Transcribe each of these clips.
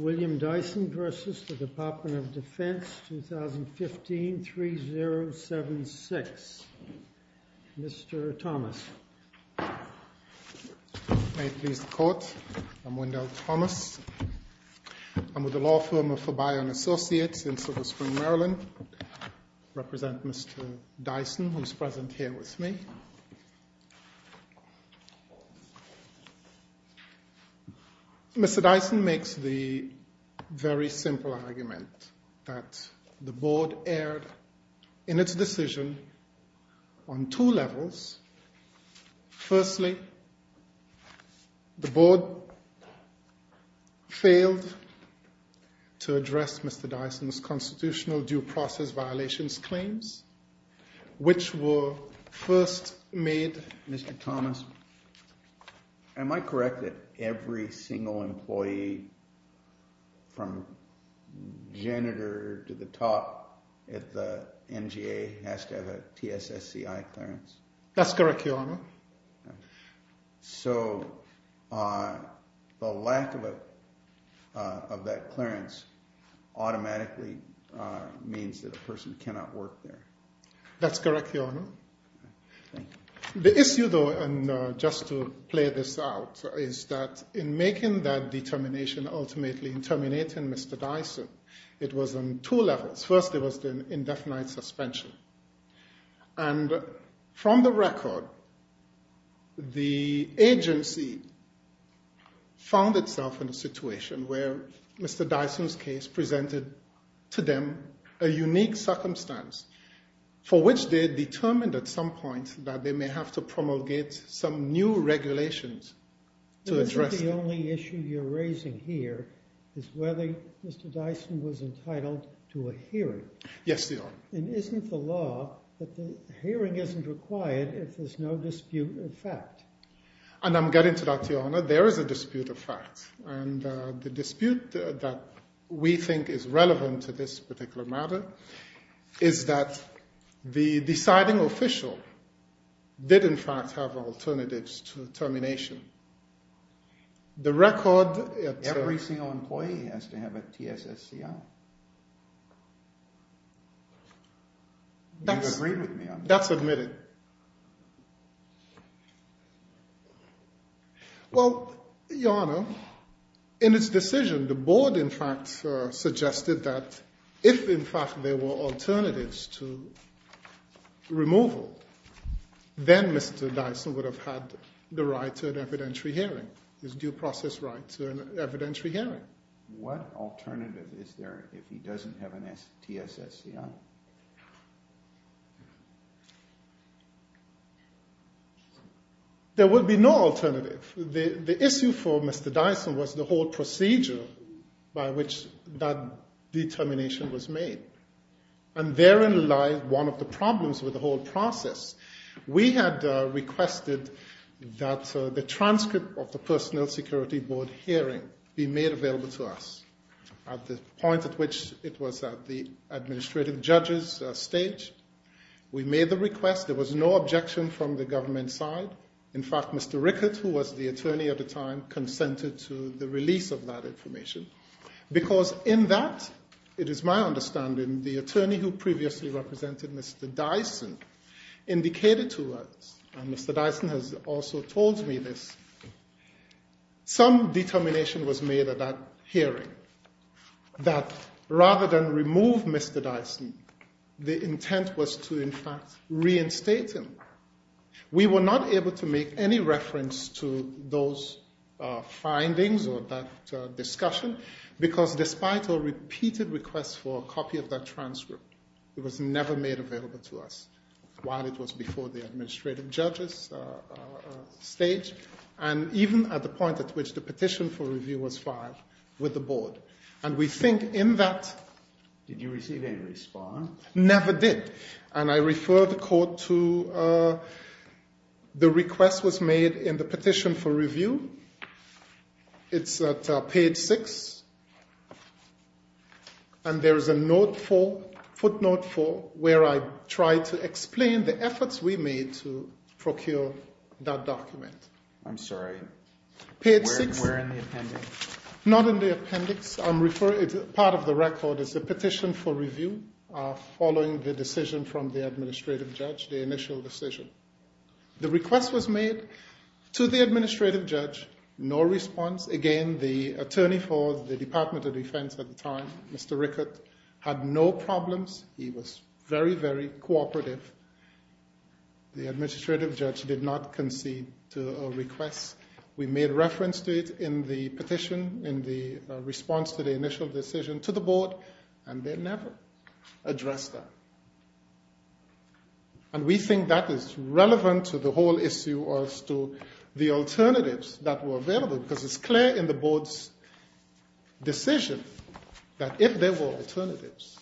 Dyson v. Defense Dyson v. Department of Defense 2015-3076. Mr. Thomas. May it please the Court, I'm Wendell Thomas. I'm with the law firm of Fabio & Associates in Silver Spring, Maryland. I represent Mr. Dyson, who is present here with me. Mr. Dyson makes the very simple argument that the Board erred in its decision on two levels. Firstly, the Board failed to address Mr. Dyson's constitutional due process violations claims, which were first made, Mr. Thomas. Am I correct that every single employee from janitor to the top at the NGA has to have a TSSCI clearance? That's correct, Your Honor. So the lack of that clearance automatically means that a person cannot work there? That's correct, Your Honor. The issue, though, and just to play this out, is that in making that determination, ultimately in terminating Mr. Dyson, it was on two levels. First, there was the indefinite suspension. And from the record, the agency found itself in a situation where Mr. Dyson's case presented to them a unique circumstance for which they determined at some point that they may have to promulgate some new regulations to address it. The only issue you're raising here is whether Mr. Dyson was entitled to a hearing. Yes, Your Honor. And isn't the law that the hearing isn't required if there's no dispute of fact? And I'm getting to that, Your Honor. There is a dispute of fact. And the dispute that we think is relevant to this particular matter is that the deciding official did, in fact, have alternatives to termination. The record... Every single employee has to have a TSSCI. You agree with me on that? That's admitted. Well, Your Honor, in its decision, the board, in fact, suggested that if, in fact, there were alternatives to removal, then Mr. Dyson would have had the right to an evidentiary hearing, his due process right to an evidentiary hearing. What alternative is there if he doesn't have a TSSCI? There would be no alternative. The issue for Mr. Dyson was the whole procedure by which that determination was made. And therein lies one of the problems with the whole process. We had requested that the transcript of the personnel security board hearing be made available to us at the point at which it was at the administrative judge's stage. We made the request. There was no objection from the government side. In fact, Mr. Rickert, who was the attorney at the time, consented to the release of that information because in that, it is my understanding, the attorney who previously represented Mr. Dyson indicated to us, and Mr. Dyson has also told me this, some determination was made at that hearing that rather than remove Mr. Dyson, the intent was to, in fact, reinstate him. We were not able to make any reference to those findings or that discussion because despite our repeated requests for a copy of that transcript, it was never made available to us while it was before the administrative judge's stage and even at the point at which the petition for review was filed with the board. And we think in that— Did you receive any response? Never did. And I refer the court to the request was made in the petition for review. It's at page 6. And there is a footnote 4 where I try to explain the efforts we made to procure that document. I'm sorry. Page 6. Where in the appendix? Not in the appendix. Part of the record is the petition for review following the decision from the administrative judge, the initial decision. The request was made to the administrative judge. No response. Again, the attorney for the Department of Defense at the time, Mr. Rickert, had no problems. He was very, very cooperative. The administrative judge did not concede to our request. We made reference to it in the petition in the response to the initial decision to the board, and they never addressed that. And we think that is relevant to the whole issue as to the alternatives that were available, because it's clear in the board's decision that if there were alternatives,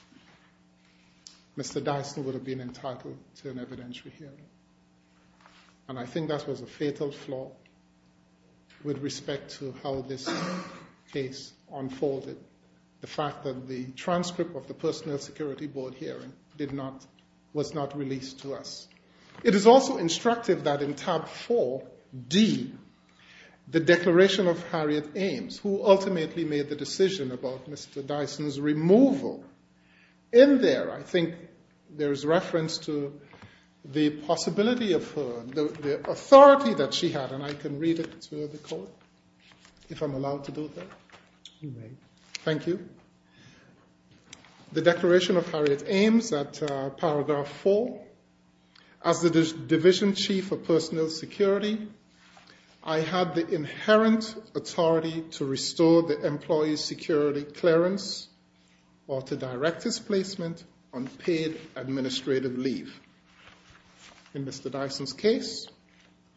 Mr. Dyson would have been entitled to an evidentiary hearing. And I think that was a fatal flaw with respect to how this case unfolded. The fact that the transcript of the personnel security board hearing was not released to us. It is also instructive that in tab 4D, the declaration of Harriet Ames, who ultimately made the decision about Mr. Dyson's removal, in there I think there is reference to the possibility of her, the authority that she had, and I can read it to Nicole if I'm allowed to do that. You may. Thank you. The declaration of Harriet Ames at paragraph 4. As the division chief of personnel security, I had the inherent authority to restore the employee's security clearance or to direct his placement on paid administrative leave. In Mr. Dyson's case,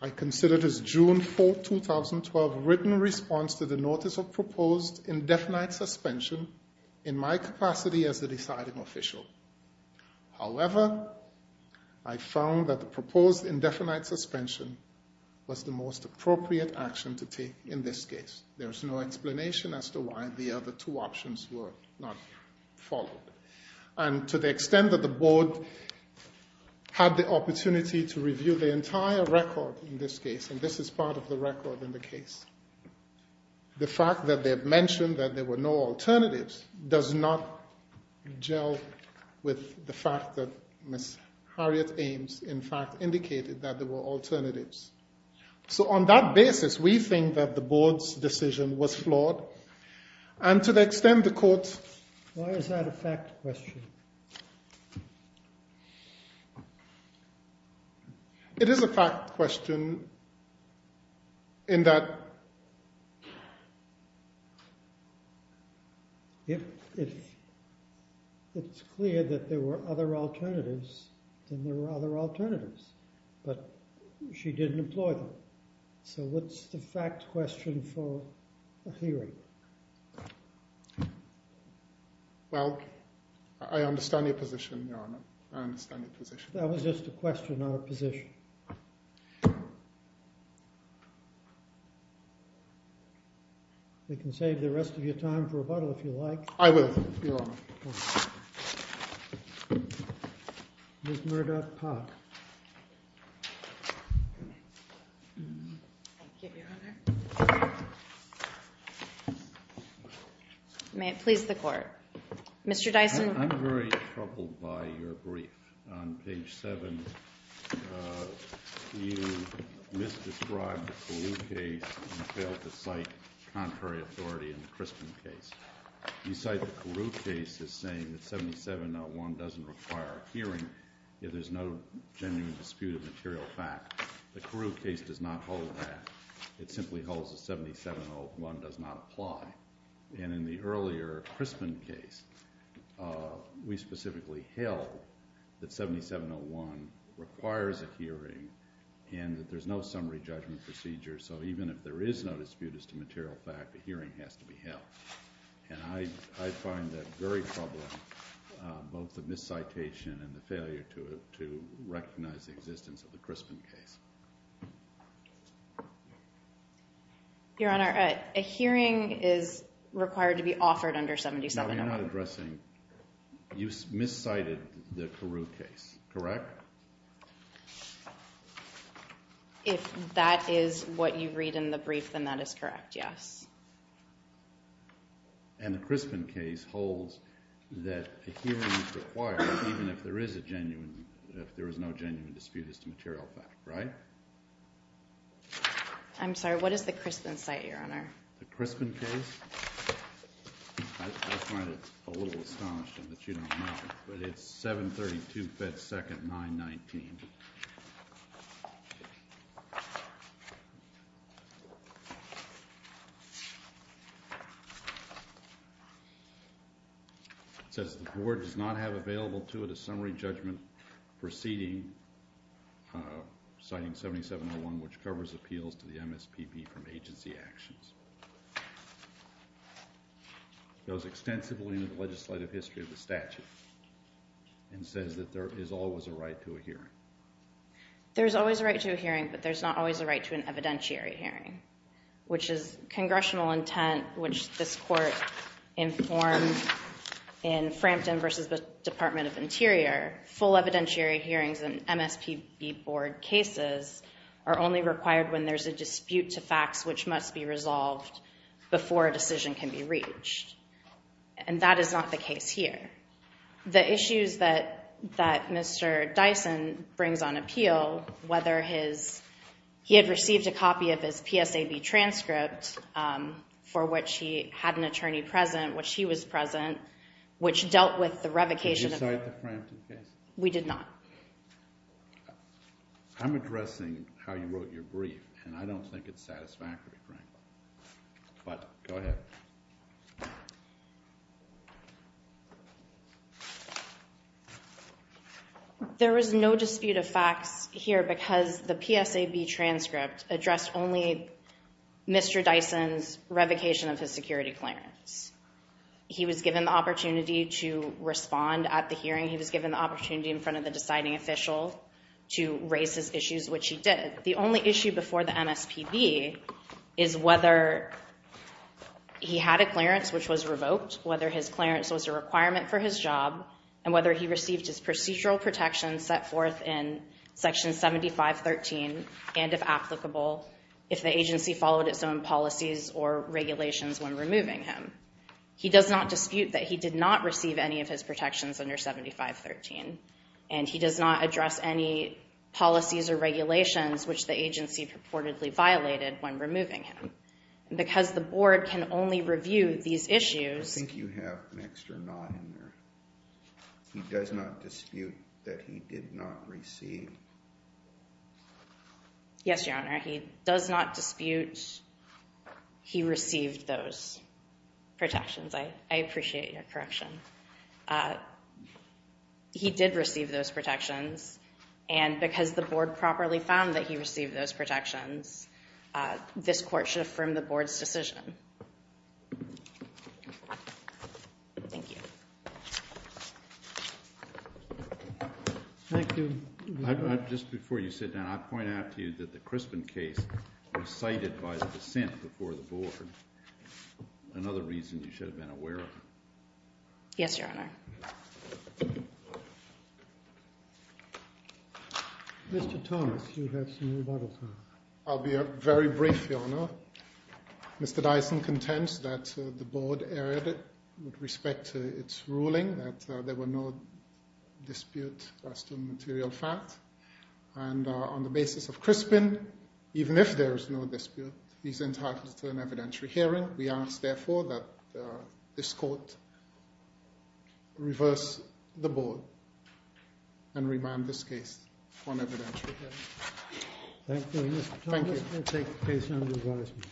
I considered his June 4, 2012 written response to the notice of proposed indefinite suspension in my capacity as the deciding official. However, I found that the proposed indefinite suspension was the most appropriate action to take in this case. There is no explanation as to why the other two options were not followed. And to the extent that the board had the opportunity to review the entire record in this case, and this is part of the record in the case, the fact that they have mentioned that there were no alternatives does not gel with the fact that Ms. Harriet Ames in fact indicated that there were alternatives. So on that basis, we think that the board's decision was flawed. And to the extent the court Why is that a fact question? It is a fact question in that If it's clear that there were other alternatives, then there were other alternatives, but she didn't employ them. So what's the fact question for a hearing? Well, I understand your position, Your Honor. I understand your position. That was just a question, not a position. We can save the rest of your time for rebuttal if you like. I will, Your Honor. Ms. Murdoch-Pack. Thank you, Your Honor. May it please the Court. Mr. Dyson. I'm very troubled by your brief. On page 7, you misdescribed the Carew case and failed to cite contrary authority in the Crispin case. You cite the Carew case as saying that 7701 doesn't require a hearing if there's no genuine dispute of material fact. The Carew case does not hold that. It simply holds that 7701 does not apply. And in the earlier Crispin case, we specifically held that 7701 requires a hearing and that there's no summary judgment procedure, so even if there is no dispute as to material fact, the hearing has to be held. And I find that very troubling, both the miscitation and the failure to recognize the existence of the Crispin case. Your Honor, a hearing is required to be offered under 7701. No, you're not addressing. You miscited the Carew case, correct? If that is what you read in the brief, then that is correct, yes. And the Crispin case holds that a hearing is required even if there is no genuine dispute as to material fact, right? I'm sorry, what is the Crispin site, Your Honor? The Crispin case? I find it a little astonishing that you don't know, but it's 732 Fed Second 919. It says the Board does not have available to it a summary judgment proceeding citing 7701, which covers appeals to the MSPP from agency actions. It goes extensively into the legislative history of the statute and says that there is always a right to a hearing. There's always a right to a hearing, but there's not always a right to an evidentiary hearing, which is congressional intent, where full evidentiary hearings in MSPB Board cases are only required when there's a dispute to facts which must be resolved before a decision can be reached. And that is not the case here. The issues that Mr. Dyson brings on appeal, whether he had received a copy of his PSAB transcript for which he had an attorney present, which he was present, which dealt with the revocation of... Did you cite the Frampton case? We did not. I'm addressing how you wrote your brief, and I don't think it's satisfactory, Frank. But go ahead. There is no dispute of facts here because the PSAB transcript addressed only Mr. Dyson's revocation of his security clearance. He was given the opportunity to respond at the hearing. He was given the opportunity in front of the deciding official to raise his issues, which he did. The only issue before the MSPB is whether he had a clearance which was revoked, whether his clearance was a requirement for his job, and whether he received his procedural protection set forth in Section 7513 and, if applicable, if the agency followed its own policies or regulations when removing him. He does not dispute that he did not receive any of his protections under 7513, and he does not address any policies or regulations which the agency purportedly violated when removing him. Because the board can only review these issues... I think you have an extra not in there. He does not dispute that he did not receive... Yes, Your Honor, he does not dispute he received those protections. I appreciate your correction. He did receive those protections, and because the board properly found that he received those protections, this court should affirm the board's decision. Thank you. Thank you. Just before you sit down, I point out to you that the Crispin case was cited by the dissent before the board, another reason you should have been aware of. Yes, Your Honor. Mr. Thomas, you have some rebuttals now. I'll be very brief, Your Honor. Mr. Dyson contends that the board erred with respect to its ruling, that there were no disputes as to material facts, and on the basis of Crispin, even if there is no dispute, he's entitled to an evidentiary hearing. We ask, therefore, that this court reverse the board and remand this case on evidentiary hearing. Thank you, Mr. Thomas. We'll take the case under advisement.